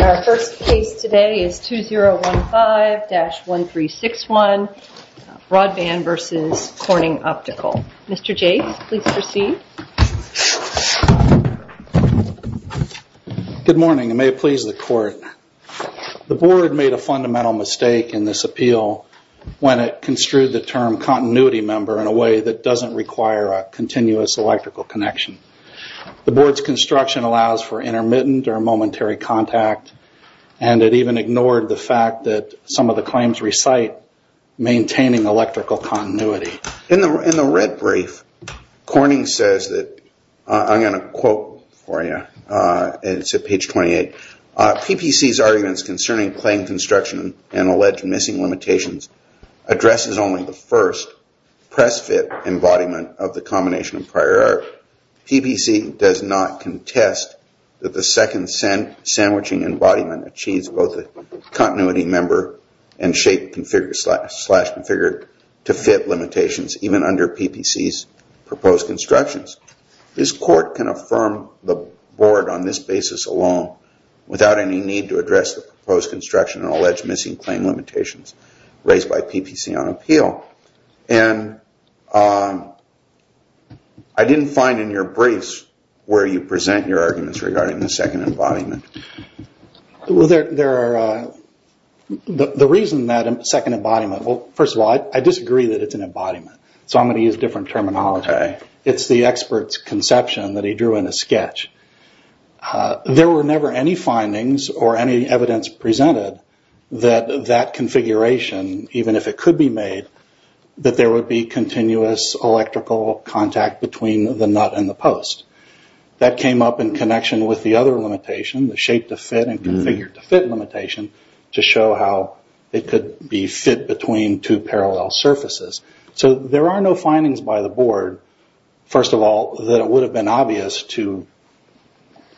Our first case today is 2015-1361, Broadband v. Corning Optical. Mr. Jase, please proceed. Good morning, and may it please the Court. The Board made a fundamental mistake in this appeal when it construed the term continuity member in a way that doesn't require a continuous electrical connection. The Board's construction allows for intermittent or momentary contact, and it even ignored the fact that some of the claims recite maintaining electrical continuity. In the red brief, Corning says that, I'm going to quote for you, it's at page 28, PPC's arguments concerning claim construction and alleged missing limitations addresses only the first press-fit embodiment of the combination of prior art. PPC does not contest that the second sandwiching embodiment achieves both a continuity member and shape-configured to fit limitations even under PPC's proposed constructions. This Court can affirm the Board on this basis alone without any need to address the proposed construction and alleged missing claim limitations raised by PPC on appeal. And I didn't find in your briefs where you present your arguments regarding the second embodiment. Well, the reason that second embodiment, well, first of all, I disagree that it's an embodiment, so I'm going to use different terminology. It's the expert's conception that he drew in a sketch. There were never any findings or any evidence presented that that configuration, even if it could be made, that there would be continuous electrical contact between the nut and the post. That came up in connection with the other limitation, the shape-to-fit and configure-to-fit limitation, to show how it could be fit between two parallel surfaces. So there are no findings by the Board, first of all, that it would have been obvious to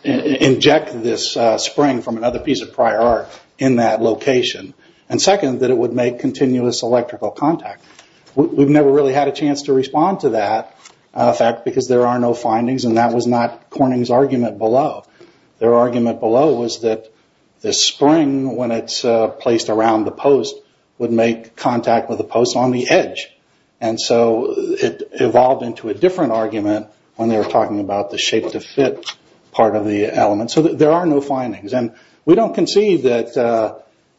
inject this spring from another piece of prior art in that location. And second, that it would make continuous electrical contact. We've never really had a chance to respond to that fact because there are no findings, and that was not Corning's argument below. Their argument below was that the spring, when it's placed around the post, would make contact with the post on the edge. And so it evolved into a different argument when they were talking about the shape-to-fit part of the element. So there are no findings, and we don't concede that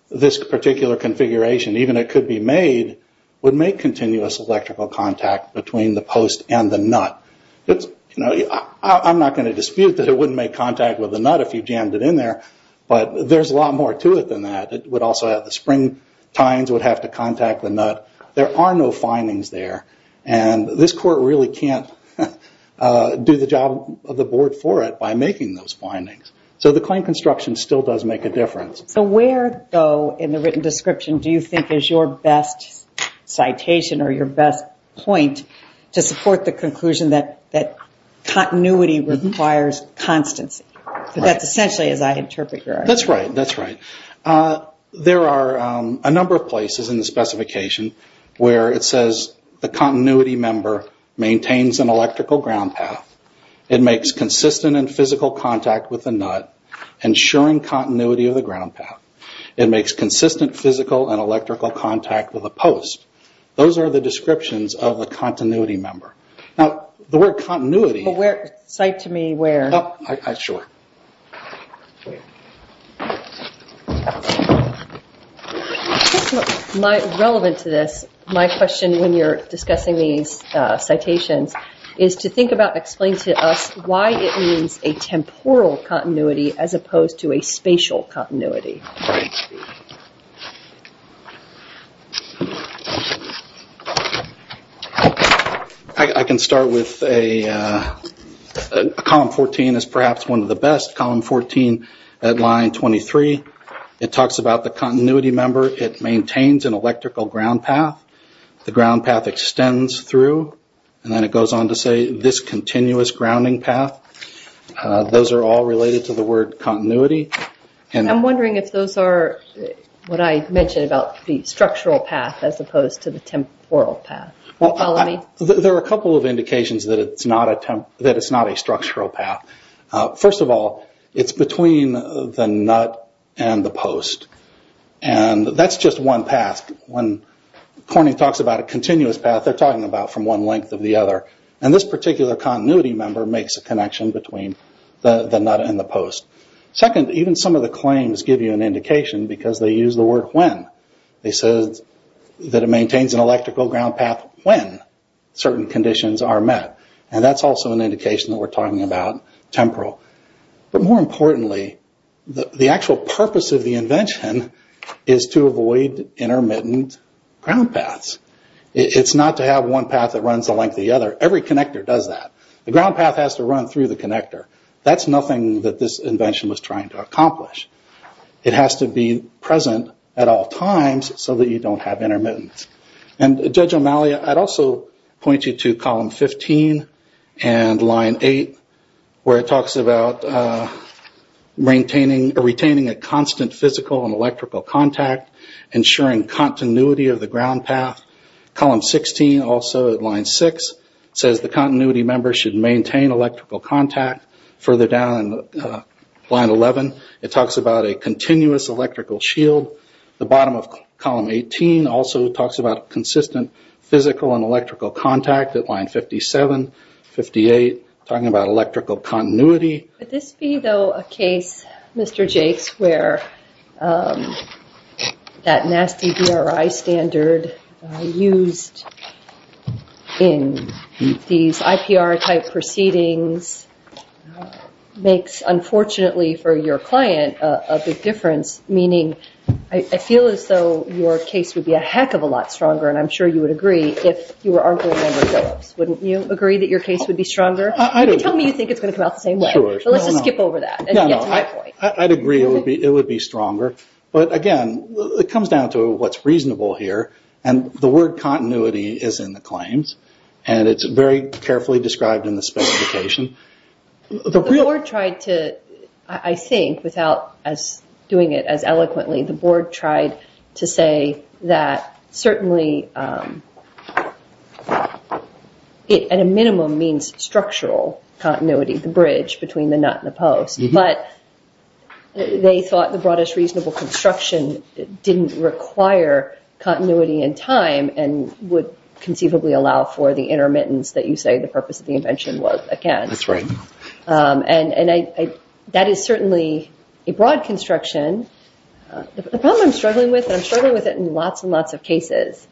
this particular configuration, even if it could be made, would make continuous electrical contact between the post and the nut. I'm not going to dispute that it wouldn't make contact with the nut if you jammed it in there, but there's a lot more to it than that. The spring tines would have to contact the nut. There are no findings there, and this Court really can't do the job of the Board for it by making those findings. So the claim construction still does make a difference. So where, though, in the written description do you think is your best citation or your best point to support the conclusion that continuity requires constancy? That's essentially as I interpret your argument. That's right, that's right. There are a number of places in the specification where it says the continuity member maintains an electrical ground path. It makes consistent and physical contact with the nut, ensuring continuity of the ground path. It makes consistent physical and electrical contact with the post. Those are the descriptions of the continuity member. The word continuity... Cite to me where. Sure. Relevant to this, my question when you're discussing these citations is to think about and explain to us why it means a temporal continuity as opposed to a spatial continuity. Right. I can start with column 14 as perhaps one of the best. Column 14 at line 23, it talks about the continuity member. It maintains an electrical ground path. The ground path extends through, and then it goes on to say this continuous grounding path. Those are all related to the word continuity. I'm wondering if those are what I mentioned about the structural path as opposed to the temporal path. There are a couple of indications that it's not a structural path. First of all, it's between the nut and the post. That's just one path. When Corning talks about a continuous path, they're talking about from one length of the other. This particular continuity member makes a connection between the nut and the post. Second, even some of the claims give you an indication because they use the word when. They say that it maintains an electrical ground path when certain conditions are met. That's also an indication that we're talking about temporal. More importantly, the actual purpose of the invention is to avoid intermittent ground paths. It's not to have one path that runs the length of the other. Every connector does that. The ground path has to run through the connector. That's nothing that this invention was trying to accomplish. It has to be present at all times so that you don't have intermittent. Judge O'Malley, I'd also point you to column 15 and line 8 where it talks about retaining a constant physical and electrical contact, ensuring continuity of the ground path. Column 16, also at line 6, says the continuity member should maintain electrical contact. Further down in line 11, it talks about a continuous electrical shield. The bottom of column 18 also talks about consistent physical and electrical contact at line 57, 58, talking about electrical continuity. Would this be, though, a case, Mr. Jakes, where that nasty DRI standard used in these IPR-type proceedings makes, unfortunately for your client, a big difference, meaning I feel as though your case would be a heck of a lot stronger, and I'm sure you would agree, if you were arguing under Phillips. Wouldn't you agree that your case would be stronger? You can tell me you think it's going to come out the same way, but let's just skip over that and get to my point. I'd agree it would be stronger, but again, it comes down to what's reasonable here, and the word continuity is in the claims, and it's very carefully described in the specification. The board tried to, I think, without doing it as eloquently, the board tried to say that certainly at a minimum means structural continuity, the bridge between the nut and the post, but they thought the broadest reasonable construction didn't require continuity in time and would conceivably allow for the intermittence that you say the purpose of the invention was, again. That's right. And that is certainly a broad construction. The problem I'm struggling with, and I'm struggling with it in lots and lots of cases,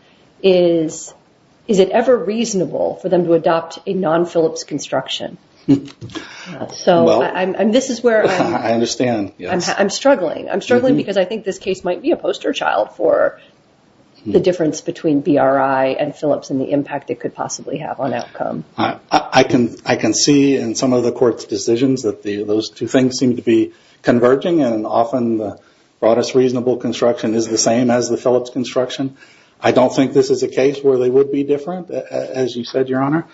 is is it ever reasonable for them to adopt a non-Phillips construction? So this is where I'm struggling. I'm struggling because I think this case might be a poster child for the difference between BRI and Phillips and the impact it could possibly have on outcome. I can see in some of the court's decisions that those two things seem to be converging, and often the broadest reasonable construction is the same as the Phillips construction. I don't think this is a case where they would be different, as you said, Your Honor.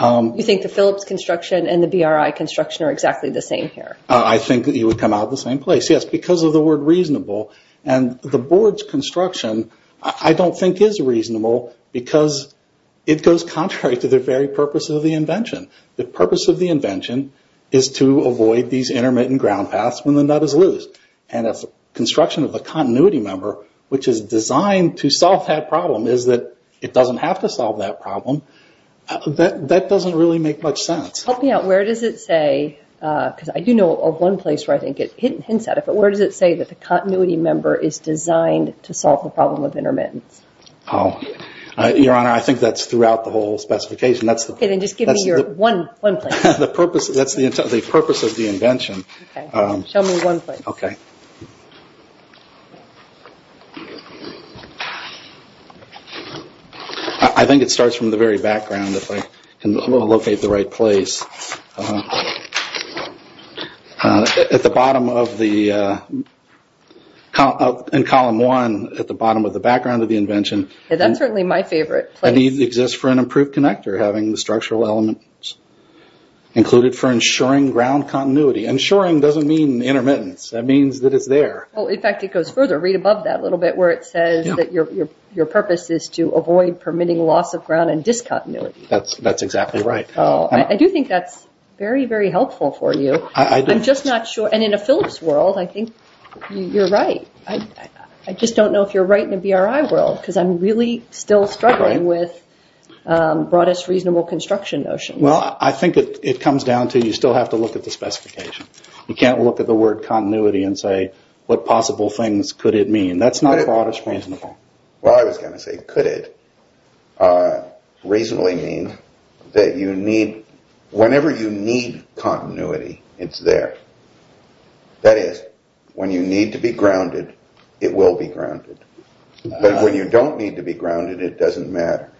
You think the Phillips construction and the BRI construction are exactly the same here? I think you would come out of the same place, yes, because of the word reasonable. And the board's construction I don't think is reasonable because it goes contrary to the very purpose of the invention. The purpose of the invention is to avoid these intermittent ground paths when the nut is loose. And if the construction of the continuity member, which is designed to solve that problem, is that it doesn't have to solve that problem, that doesn't really make much sense. Help me out. Where does it say, because I do know of one place where I think it hints at it, but where does it say that the continuity member is designed to solve the problem of intermittence? Your Honor, I think that's throughout the whole specification. Okay. Then just give me your one place. That's the purpose of the invention. Okay. Show me one place. Okay. I think it starts from the very background, if I can locate the right place. At the bottom of the column one, at the bottom of the background of the invention. That's certainly my favorite place. And it exists for an improved connector, having the structural element included for ensuring ground continuity. Ensuring doesn't mean intermittence. That means that it's there. In fact, it goes further. Read above that a little bit where it says that your purpose is to avoid permitting loss of ground and discontinuity. That's exactly right. I do think that's very, very helpful for you. I'm just not sure. And in a Phillips world, I think you're right. I just don't know if you're right in a BRI world because I'm really still struggling with broadest reasonable construction notions. Well, I think it comes down to you still have to look at the specification. You can't look at the word continuity and say what possible things could it mean. That's not broadest reasonable. Well, I was going to say could it reasonably mean that you need, whenever you need continuity, it's there. That is, when you need to be grounded, it will be grounded. But when you don't need to be grounded, it doesn't matter.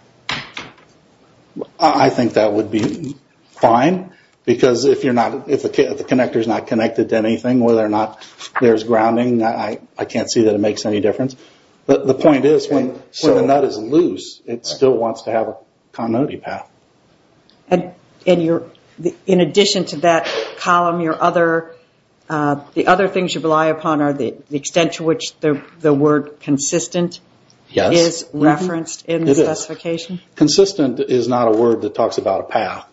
I think that would be fine because if the connector is not connected to anything, whether or not there's grounding, I can't see that it makes any difference. But the point is when the nut is loose, it still wants to have a continuity path. In addition to that column, the other things you rely upon are the extent to which the word consistent is referenced in the specification? Consistent is not a word that talks about a path.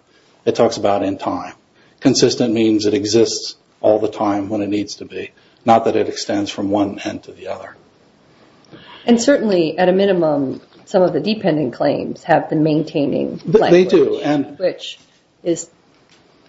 It talks about in time. Consistent means it exists all the time when it needs to be, not that it extends from one end to the other. Certainly, at a minimum, some of the dependent claims have the maintaining language. They do.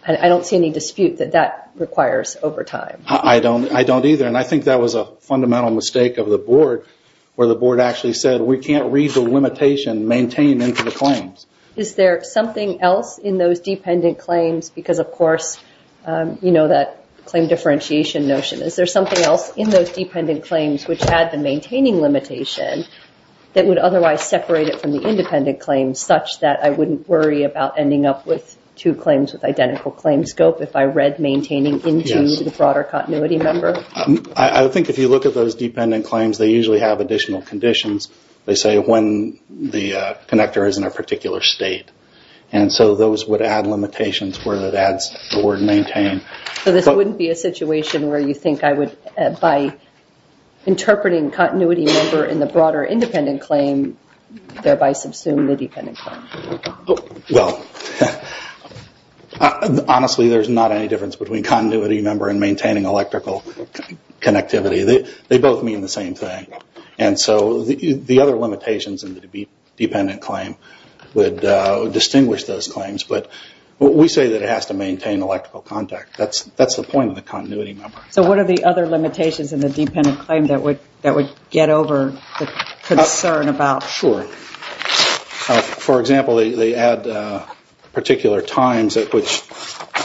I don't see any dispute that that requires overtime. I don't either. I think that was a fundamental mistake of the board where the board actually said we can't read the limitation maintained into the claims. Is there something else in those dependent claims? Because, of course, you know that claim differentiation notion. Is there something else in those dependent claims which had the maintaining limitation that would otherwise separate it from the independent claims such that I wouldn't worry about ending up with two claims with identical claim scope if I read maintaining into the broader continuity member? I think if you look at those dependent claims, they usually have additional conditions. They say when the connector is in a particular state. And so those would add limitations where that adds the word maintain. So this wouldn't be a situation where you think I would, by interpreting continuity member in the broader independent claim, thereby subsume the dependent claim? Well, honestly, there's not any difference between continuity member and maintaining electrical connectivity. They both mean the same thing. And so the other limitations in the dependent claim would distinguish those claims. But we say that it has to maintain electrical contact. That's the point of the continuity member. So what are the other limitations in the dependent claim that would get over the concern about? Sure. For example, they add particular times at which.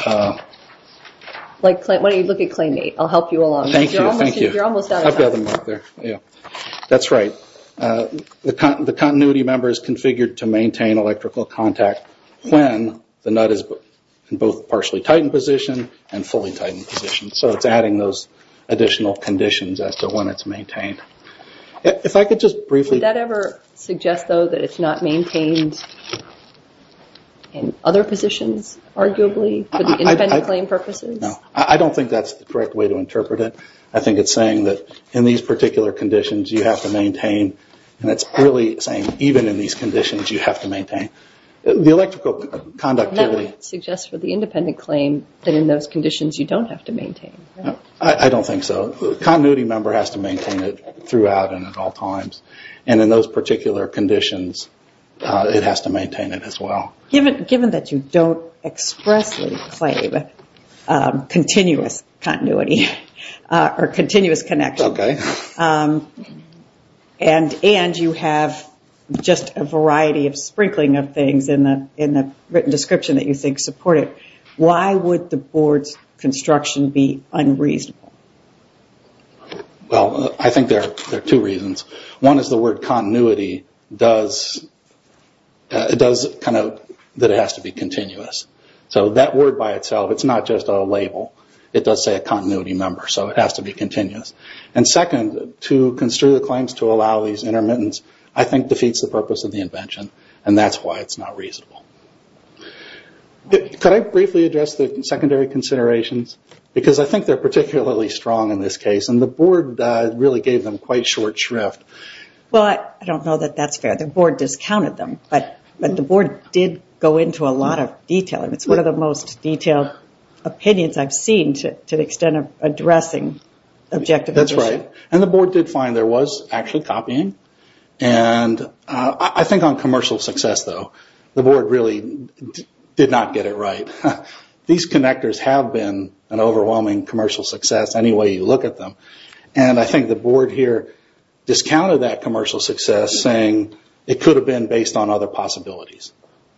Why don't you look at claim eight? I'll help you along. Thank you. You're almost out of time. That's right. The continuity member is configured to maintain electrical contact when the nut is in both partially tightened position and fully tightened position. So it's adding those additional conditions as to when it's maintained. If I could just briefly. Would that ever suggest, though, that it's not maintained in other positions, arguably, for the independent claim purposes? No. I don't think that's the correct way to interpret it. I think it's saying that in these particular conditions you have to maintain. And it's really saying even in these conditions you have to maintain. The electrical conductivity. That would suggest for the independent claim that in those conditions you don't have to maintain. I don't think so. The continuity member has to maintain it throughout and at all times. And in those particular conditions, it has to maintain it as well. Given that you don't expressly claim continuous continuity or continuous connection. Okay. And you have just a variety of sprinkling of things in the written description that you think support it. Why would the board's construction be unreasonable? Well, I think there are two reasons. One is the word continuity does kind of, that it has to be continuous. So that word by itself, it's not just a label. It does say a continuity member. So it has to be continuous. And second, to construe the claims to allow these intermittents, I think, defeats the purpose of the invention. And that's why it's not reasonable. Could I briefly address the secondary considerations? Because I think they're particularly strong in this case. And the board really gave them quite short shrift. Well, I don't know that that's fair. The board discounted them. But the board did go into a lot of detail. It's one of the most detailed opinions I've seen to the extent of addressing objective. That's right. And the board did find there was actually copying. And I think on commercial success, though, the board really did not get it right. These connectors have been an overwhelming commercial success any way you look at them. And I think the board here discounted that commercial success, saying it could have been based on other possibilities.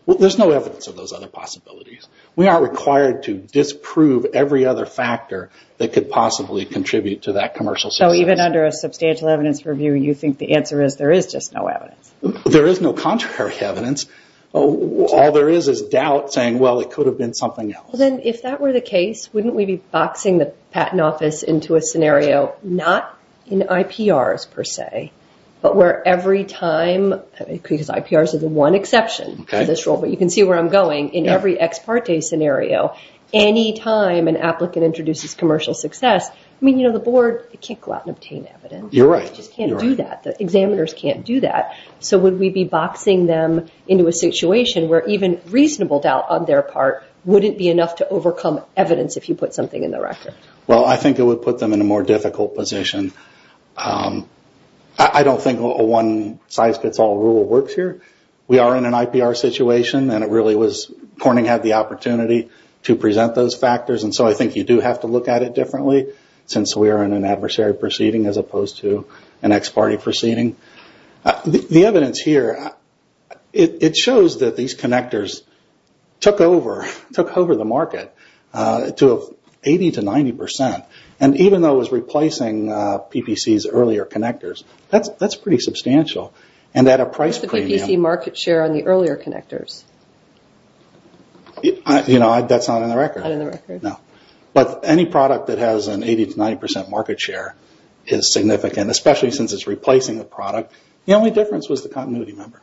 There's no evidence of those other possibilities. We aren't required to disprove every other factor that could possibly contribute to that commercial success. So even under a substantial evidence review, you think the answer is there is just no evidence? There is no contrary evidence. All there is is doubt saying, well, it could have been something else. Well, then, if that were the case, wouldn't we be boxing the patent office into a scenario not in IPRs per se, but where every time, because IPRs are the one exception to this rule, but you can see where I'm going, in every ex parte scenario, any time an applicant introduces commercial success, I mean, you know, the board can't go out and obtain evidence. You're right. They just can't do that. The examiners can't do that. So would we be boxing them into a situation where even reasonable doubt on their part wouldn't be enough to overcome evidence if you put something in the record? Well, I think it would put them in a more difficult position. I don't think a one size fits all rule works here. We are in an IPR situation, and it really was Corning had the opportunity to present those factors, and so I think you do have to look at it differently since we are in an adversary proceeding as opposed to an ex parte proceeding. The evidence here, it shows that these connectors took over the market to 80 to 90 percent, and even though it was replacing PPC's earlier connectors, that's pretty substantial, and at a price premium. What's the PPC market share on the earlier connectors? You know, that's not in the record. Not in the record. No. But any product that has an 80 to 90 percent market share is significant, especially since it's replacing the product. The only difference was the continuity number.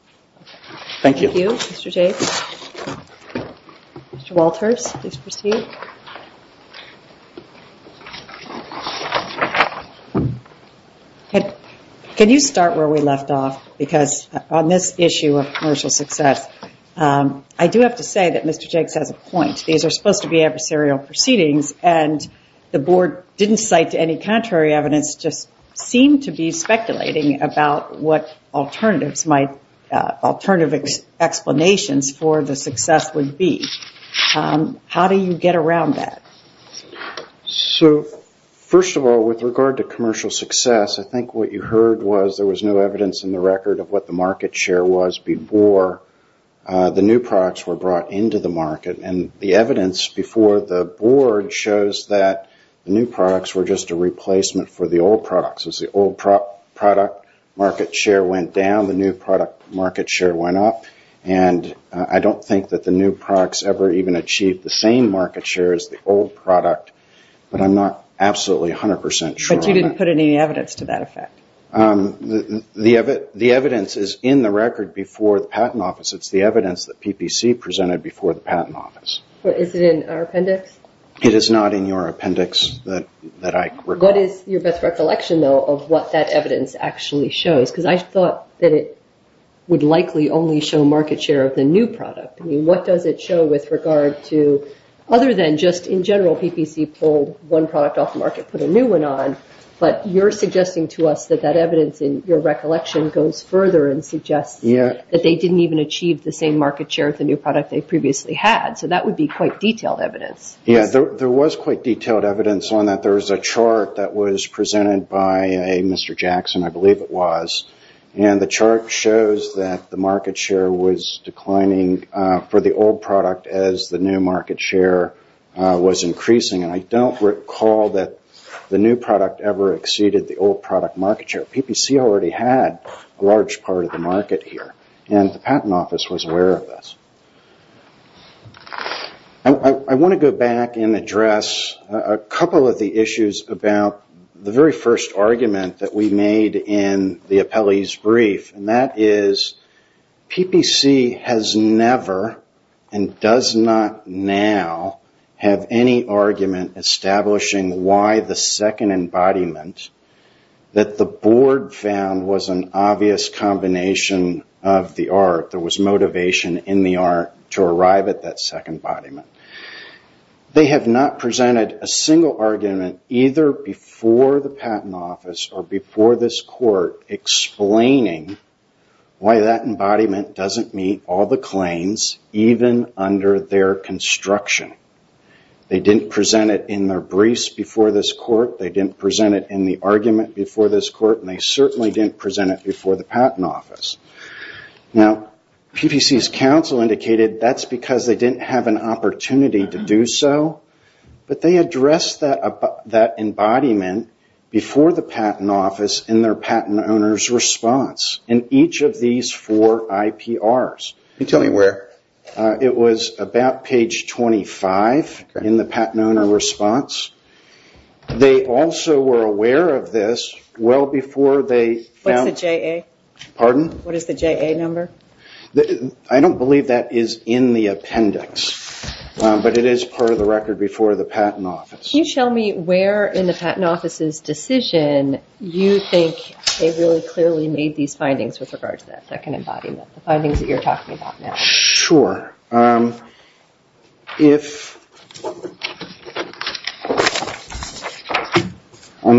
Thank you. Thank you, Mr. Jakes. Mr. Walters, please proceed. Can you start where we left off? Because on this issue of commercial success, I do have to say that Mr. Jakes has a point. These are supposed to be adversarial proceedings, and the board didn't cite any contrary evidence, just seemed to be speculating about what alternative explanations for the success would be. How do you get around that? So first of all, with regard to commercial success, I think what you heard was there was no evidence in the record of what the market share was before the new products were brought into the market, and the evidence before the board shows that the new products were just a replacement for the old products. As the old product market share went down, the new product market share went up, and I don't think that the new products ever even achieved the same market share as the old product, but I'm not absolutely 100 percent sure. But you didn't put any evidence to that effect? The evidence is in the record before the Patent Office. It's the evidence that PPC presented before the Patent Office. Is it in our appendix? It is not in your appendix. What is your best recollection, though, of what that evidence actually shows? Because I thought that it would likely only show market share of the new product. I mean, what does it show with regard to other than just in general PPC pulled one product off the market, put a new one on, but you're suggesting to us that that evidence in your recollection goes further and suggests that they didn't even achieve the same market share of the new product they previously had. So that would be quite detailed evidence. Yes, there was quite detailed evidence on that. There was a chart that was presented by a Mr. Jackson, I believe it was, and the chart shows that the market share was declining for the old product as the new market share was increasing, and I don't recall that the new product ever exceeded the old product market share. PPC already had a large part of the market here, and the Patent Office was aware of this. I want to go back and address a couple of the issues about the very first argument that we made in the appellee's brief, and that is PPC has never and does not now have any argument establishing why the second embodiment, that the board found was an obvious combination of the art, there was motivation in the art to arrive at that second embodiment. They have not presented a single argument either before the Patent Office or before this court explaining why that embodiment doesn't meet all the claims, even under their construction. They didn't present it in their briefs before this court. They didn't present it in the argument before this court, and they certainly didn't present it before the Patent Office. Now, PPC's counsel indicated that's because they didn't have an opportunity to do so, but they addressed that embodiment before the Patent Office in their patent owner's response in each of these four IPRs. Can you tell me where? It was about page 25 in the patent owner response. They also were aware of this well before they found- What's the JA? Pardon? What is the JA number? I don't believe that is in the appendix, but it is part of the record before the Patent Office. Can you tell me where in the Patent Office's decision you think they really clearly made these findings with regard to that second embodiment, the findings that you're talking about now? Sure. I'm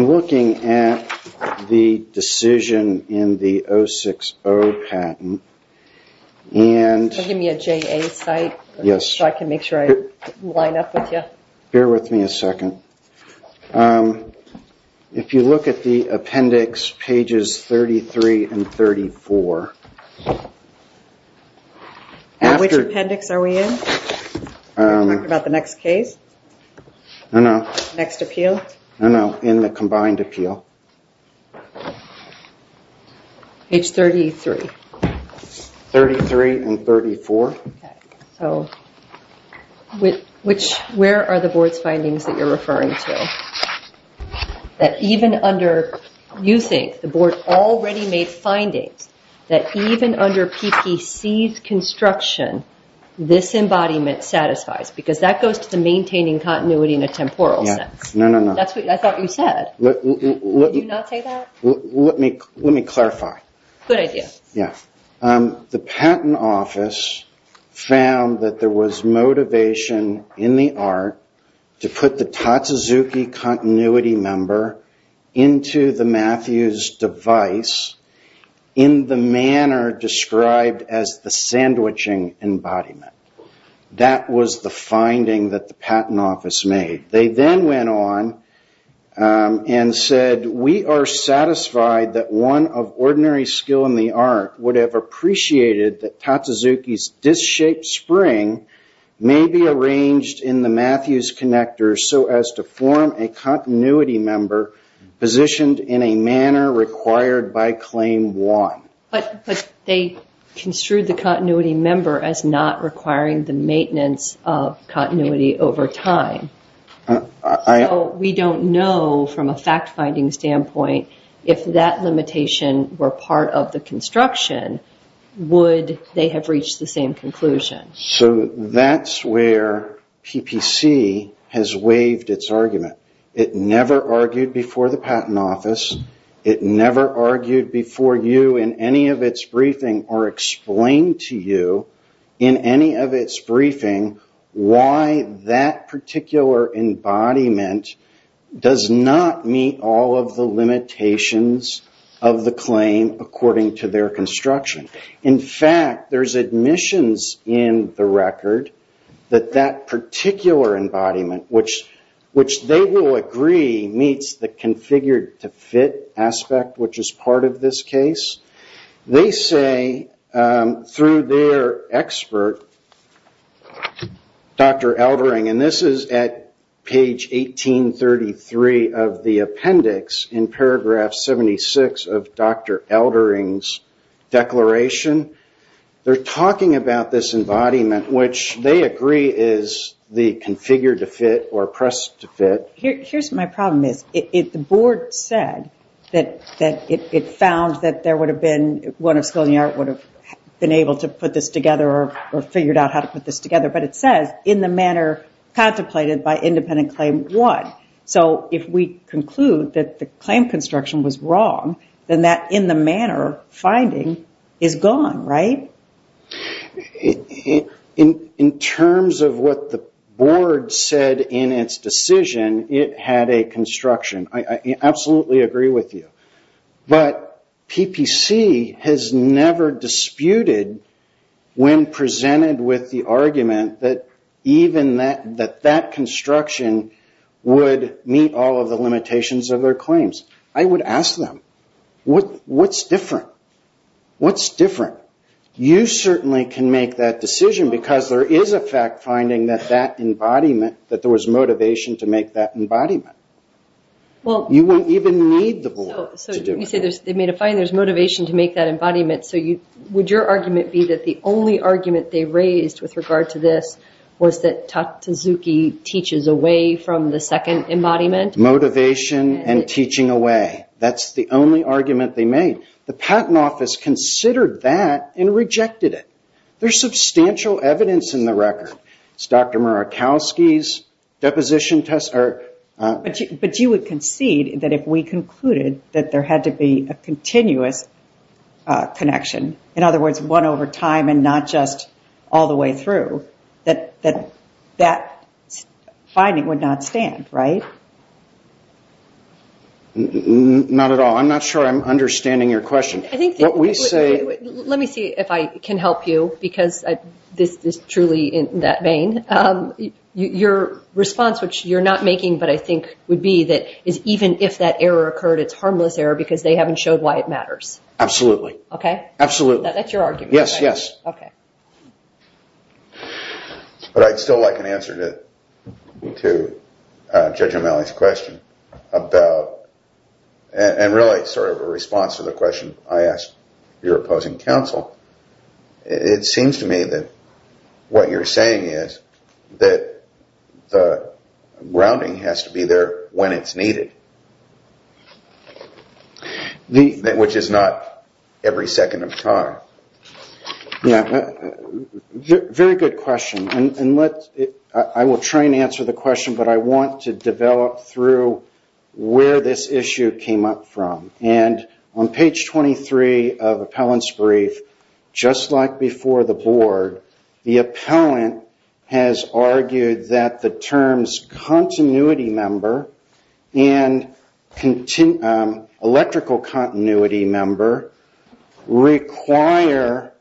looking at the decision in the 060 patent. Can you give me a JA site so I can make sure I line up with you? Bear with me a second. If you look at the appendix pages 33 and 34- Which appendix are we in? Are we talking about the next case? No, no. Next appeal? No, no, in the combined appeal. Page 33. 33 and 34. Where are the board's findings that you're referring to? You think the board already made findings that even under PPC's construction, this embodiment satisfies, because that goes to the maintaining continuity in a temporal sense. No, no, no. That's what I thought you said. Did you not say that? Let me clarify. Good idea. The patent office found that there was motivation in the art to put the Tatsuzuki continuity member into the Matthews device in the manner described as the sandwiching embodiment. That was the finding that the patent office made. They then went on and said, We are satisfied that one of ordinary skill in the art would have appreciated that Tatsuzuki's disshaped spring may be arranged in the Matthews connector so as to form a continuity member positioned in a manner required by claim one. But they construed the continuity member as not requiring the maintenance of continuity over time. So we don't know from a fact-finding standpoint if that limitation were part of the construction, would they have reached the same conclusion? So that's where PPC has waived its argument. It never argued before the patent office. It never argued before you in any of its briefing or explained to you in any of its briefing why that particular embodiment does not meet all of the limitations of the claim according to their construction. In fact, there's admissions in the record that that particular embodiment, which they will agree meets the configured to fit aspect, which is part of this case. They say through their expert, Dr. Eldering, and this is at page 1833 of the appendix in paragraph 76 of Dr. Eldering's declaration. They're talking about this embodiment, which they agree is the configured to fit or pressed to fit. Here's my problem, Miss. The board said that it found that there would have been, one of skill in the art would have been able to put this together or figured out how to put this together. But it says in the manner contemplated by independent claim one. If we conclude that the claim construction was wrong, then that in the manner finding is gone, right? In terms of what the board said in its decision, it had a construction. I absolutely agree with you. But PPC has never disputed when presented with the argument that even that construction would meet all of the limitations of their claims. I would ask them, what's different? What's different? You certainly can make that decision because there is a fact finding that that embodiment, that there was motivation to make that embodiment. You won't even need the board to do it. You say they made a finding, there's motivation to make that embodiment. Would your argument be that the only argument they raised with regard to this was that Tutte Suzuki teaches away from the second embodiment? Motivation and teaching away. That's the only argument they made. The patent office considered that and rejected it. There's substantial evidence in the record. It's Dr. Murakowski's deposition test. But you would concede that if we concluded that there had to be a continuous connection, in other words, one over time and not just all the way through, that that finding would not stand, right? Not at all. I'm not sure I'm understanding your question. Let me see if I can help you because this is truly in that vein. Your response, which you're not making but I think would be that even if that error occurred, it's harmless error because they haven't showed why it matters. Absolutely. Okay. Absolutely. That's your argument, right? Yes, yes. Okay. But I'd still like an answer to Judge O'Malley's question about, and really sort of a response to the question I asked your opposing counsel. It seems to me that what you're saying is that the grounding has to be there when it's needed, which is not every second of time. Very good question. I will try and answer the question, but I want to develop through where this issue came up from. On page 23 of appellant's brief, just like before the board, the appellant has argued that the terms continuity member and electrical continuity member require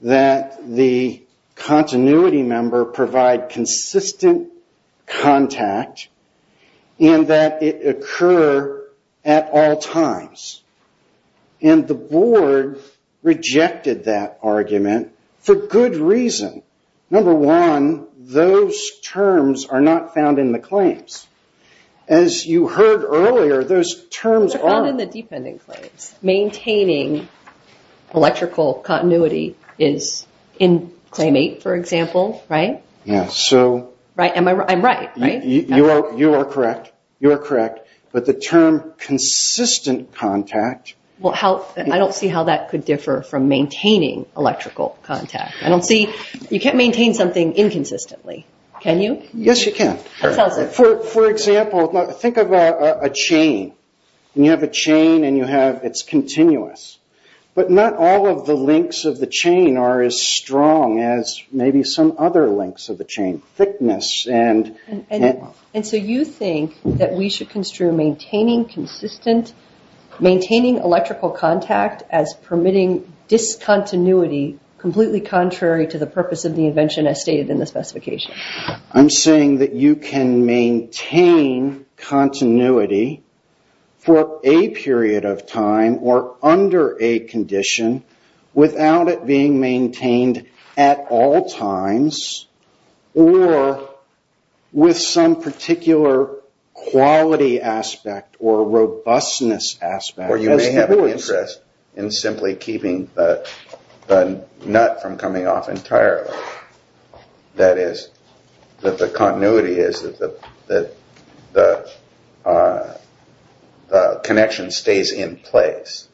that the continuity member provide consistent contact and that it occur at all times. And the board rejected that argument for good reason. Number one, those terms are not found in the claims. As you heard earlier, those terms are- They're found in the dependent claims. Maintaining electrical continuity is in claim eight, for example, right? Yes. I'm right, right? You are correct. You are correct. But the term consistent contact- Well, I don't see how that could differ from maintaining electrical contact. I don't see- You can't maintain something inconsistently. Can you? Yes, you can. For example, think of a chain. You have a chain and you have- It's continuous. But not all of the links of the chain are as strong as maybe some other links of the chain. And so you think that we should construe maintaining electrical contact as permitting discontinuity completely contrary to the purpose of the invention as stated in the specification? I'm saying that you can maintain continuity for a period of time or under a condition without it being maintained at all times or with some particular quality aspect or robustness aspect. Or you may have an interest in simply keeping the nut from coming off entirely. That is, that the continuity is that the connection stays in place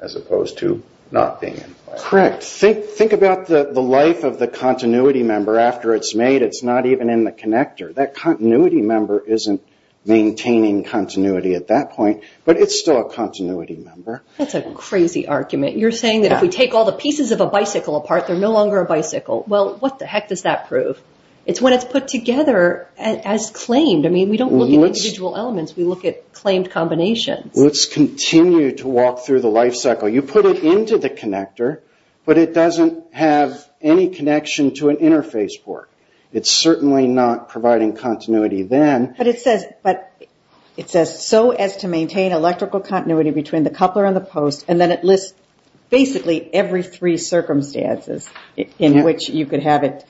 as opposed to not being in place. Correct. Think about the life of the continuity member after it's made. It's not even in the connector. That continuity member isn't maintaining continuity at that point, but it's still a continuity member. That's a crazy argument. You're saying that if we take all the pieces of a bicycle apart, they're no longer a bicycle. Well, what the heck does that prove? It's when it's put together as claimed. I mean, we don't look at individual elements. We look at claimed combinations. Let's continue to walk through the life cycle. You put it into the connector, but it doesn't have any connection to an interface port. It's certainly not providing continuity then. But it says, so as to maintain electrical continuity between the coupler and the post, and then it lists basically every three circumstances in which you could have it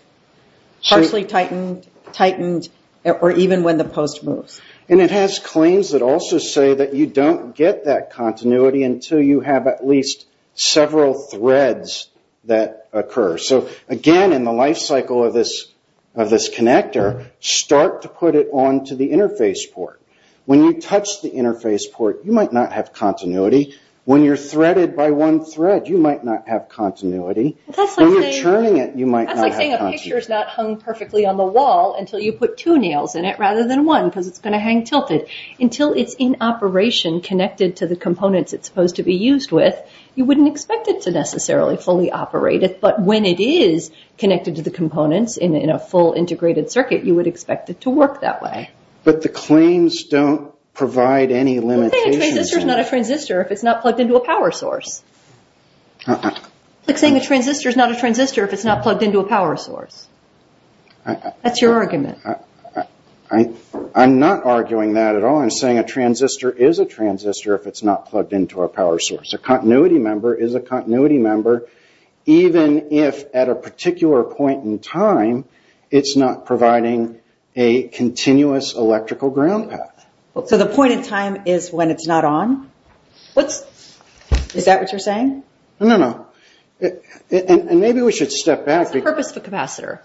partially tightened or even when the post moves. And it has claims that also say that you don't get that continuity until you have at least several threads that occur. So, again, in the life cycle of this connector, start to put it onto the interface port. When you touch the interface port, you might not have continuity. When you're threaded by one thread, you might not have continuity. When you're turning it, you might not have continuity. That's like saying a picture is not hung perfectly on the wall until you put two nails in it rather than one because it's going to hang tilted. Until it's in operation connected to the components it's supposed to be used with, you wouldn't expect it to necessarily fully operate it. But when it is connected to the components in a full integrated circuit, you would expect it to work that way. But the claims don't provide any limitations. It's like saying a transistor is not a transistor if it's not plugged into a power source. It's like saying a transistor is not a transistor if it's not plugged into a power source. That's your argument. I'm not arguing that at all. I'm saying a transistor is a transistor if it's not plugged into a power source. A continuity member is a continuity member even if at a particular point in time it's not providing a continuous electrical ground path. So the point in time is when it's not on? Is that what you're saying? No, no. Maybe we should step back. What's the purpose of a capacitor?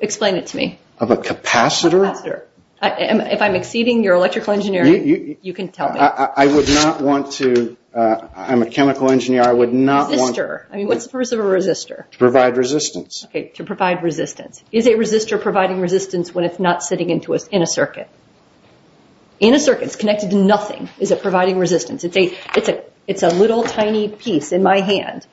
Explain it to me. Of a capacitor? If I'm exceeding your electrical engineering, you can tell me. I would not want to. I'm a chemical engineer. I would not want to. Resistor. What's the purpose of a resistor? To provide resistance. Okay, to provide resistance. Is a resistor providing resistance when it's not sitting in a circuit? In a circuit, it's connected to nothing. Is it providing resistance? It's a little tiny piece in my hand.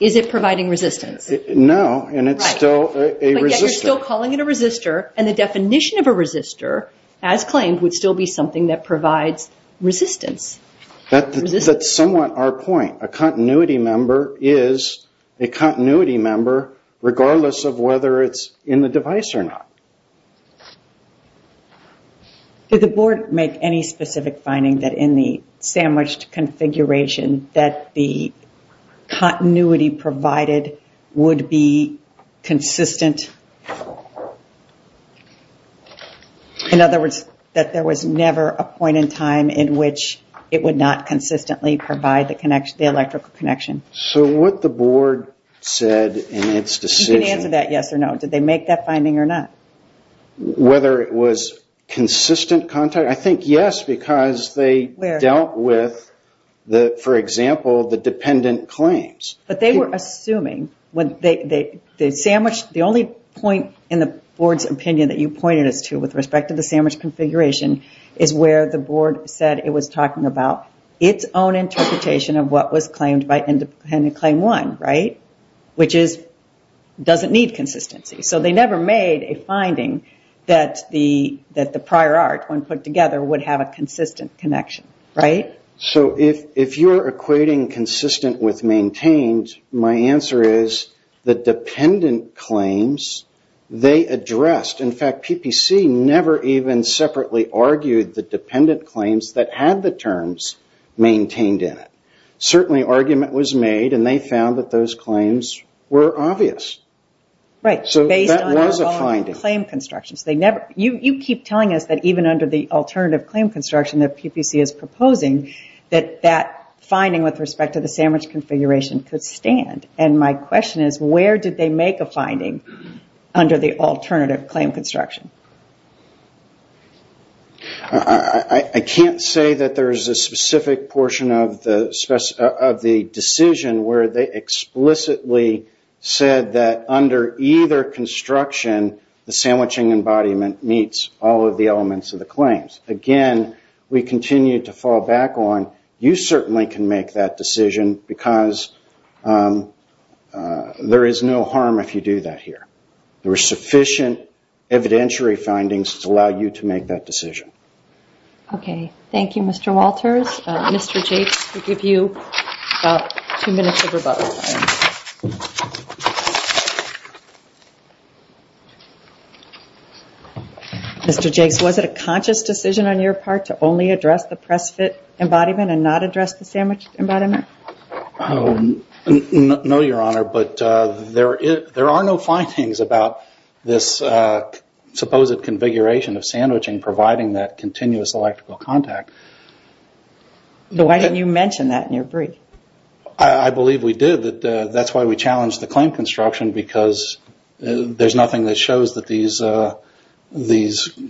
Is it providing resistance? No, and it's still a resistor. But yet you're still calling it a resistor, and the definition of a resistor, as claimed, would still be something that provides resistance. That's somewhat our point. A continuity member is a continuity member regardless of whether it's in the device or not. Did the board make any specific finding that in the sandwiched configuration that the continuity provided would be consistent? In other words, that there was never a point in time in which it would not consistently provide the electrical connection. So what the board said in its decision. You can answer that yes or no. Did they make that finding or not? Whether it was consistent contact? I think yes, because they dealt with, for example, the dependent claims. But they were assuming. The only point in the board's opinion that you pointed us to with respect to the sandwich configuration is where the board said it was talking about its own interpretation of what was claimed by independent claim one, right? Which doesn't need consistency. So they never made a finding that the prior art, when put together, would have a consistent connection, right? So if you're equating consistent with maintained, my answer is the dependent claims they addressed. In fact, PPC never even separately argued the dependent claims that had the terms maintained in it. Certainly argument was made, and they found that those claims were obvious. So that was a finding. You keep telling us that even under the alternative claim construction that PPC is proposing, that that finding with respect to the sandwich configuration could stand. And my question is where did they make a finding under the alternative claim construction? I can't say that there's a specific portion of the decision where they explicitly said that under either construction, the sandwiching embodiment meets all of the elements of the claims. Again, we continue to fall back on, you certainly can make that decision because there is no harm if you do that here. There were sufficient evidentiary findings to allow you to make that decision. Okay, thank you, Mr. Walters. Mr. Jakes, we'll give you about two minutes of rebuttal. Mr. Jakes, was it a conscious decision on your part to only address the press fit embodiment and not address the sandwich embodiment? No, Your Honor, but there are no findings about this supposed configuration of sandwiching providing that continuous electrical contact. Why didn't you mention that in your brief? I believe we did. That's why we challenged the claim construction because there's nothing that shows that these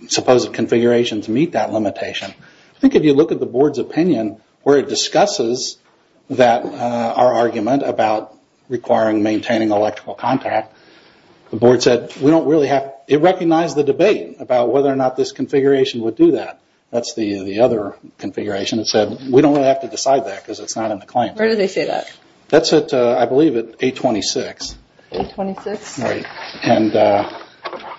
supposed configurations meet that limitation. I think if you look at the Board's opinion where it discusses our argument about requiring maintaining electrical contact, the Board said it recognized the debate about whether or not this configuration would do that. That's the other configuration that said we don't really have to decide that because it's not in the claim. Where did they say that? That's at, I believe, 826. 826? Right, and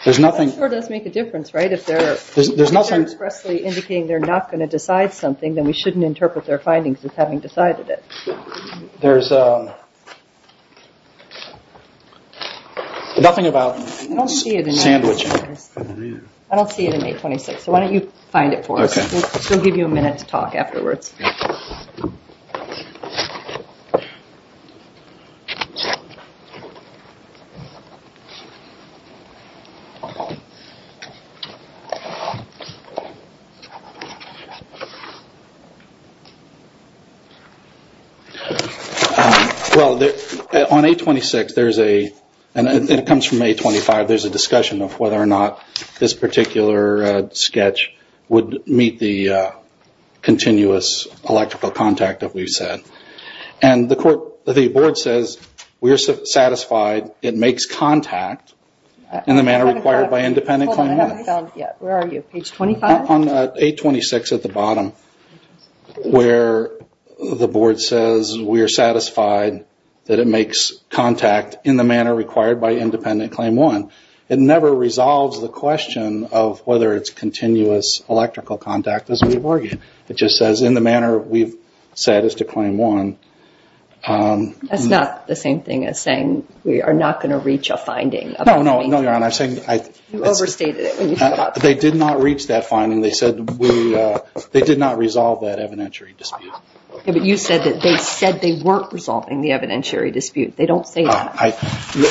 there's nothing... That does make a difference, right? If they're expressly indicating they're not going to decide something, then we shouldn't interpret their findings as having decided it. There's nothing about sandwiching. I don't see it in 826, so why don't you find it for us? We'll give you a minute to talk afterwards. Well, on 826 there's a... and it comes from 825, there's a discussion of whether or not this particular sketch would meet the continuous electrical contact that we've said. And the Board says, we're satisfied it makes contact in the manner required by Independent Claim 1. Hold on, I haven't found it yet. Where are you, page 25? On 826 at the bottom where the Board says we're satisfied that it makes contact in the manner required by Independent Claim 1. It never resolves the question of whether it's continuous electrical contact as we've argued. It just says, in the manner we've said as to Claim 1. That's not the same thing as saying we are not going to reach a finding. No, no, no, Your Honor. I'm saying... You overstated it. They did not reach that finding. They said we... they did not resolve that evidentiary dispute. Yeah, but you said that they said they weren't resolving the evidentiary dispute. They don't say that.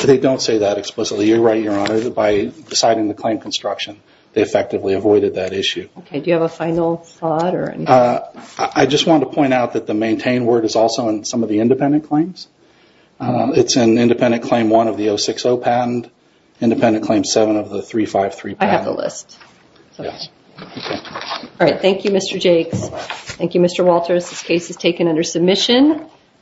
They don't say that explicitly. You're right, Your Honor. By deciding the claim construction, they effectively avoided that issue. Okay, do you have a final thought or anything? I just want to point out that the maintain word is also in some of the independent claims. It's in Independent Claim 1 of the 060 patent, Independent Claim 7 of the 353 patent. I have the list. Yes. Okay. All right, thank you, Mr. Jakes. Thank you, Mr. Walters. This case is taken under submission.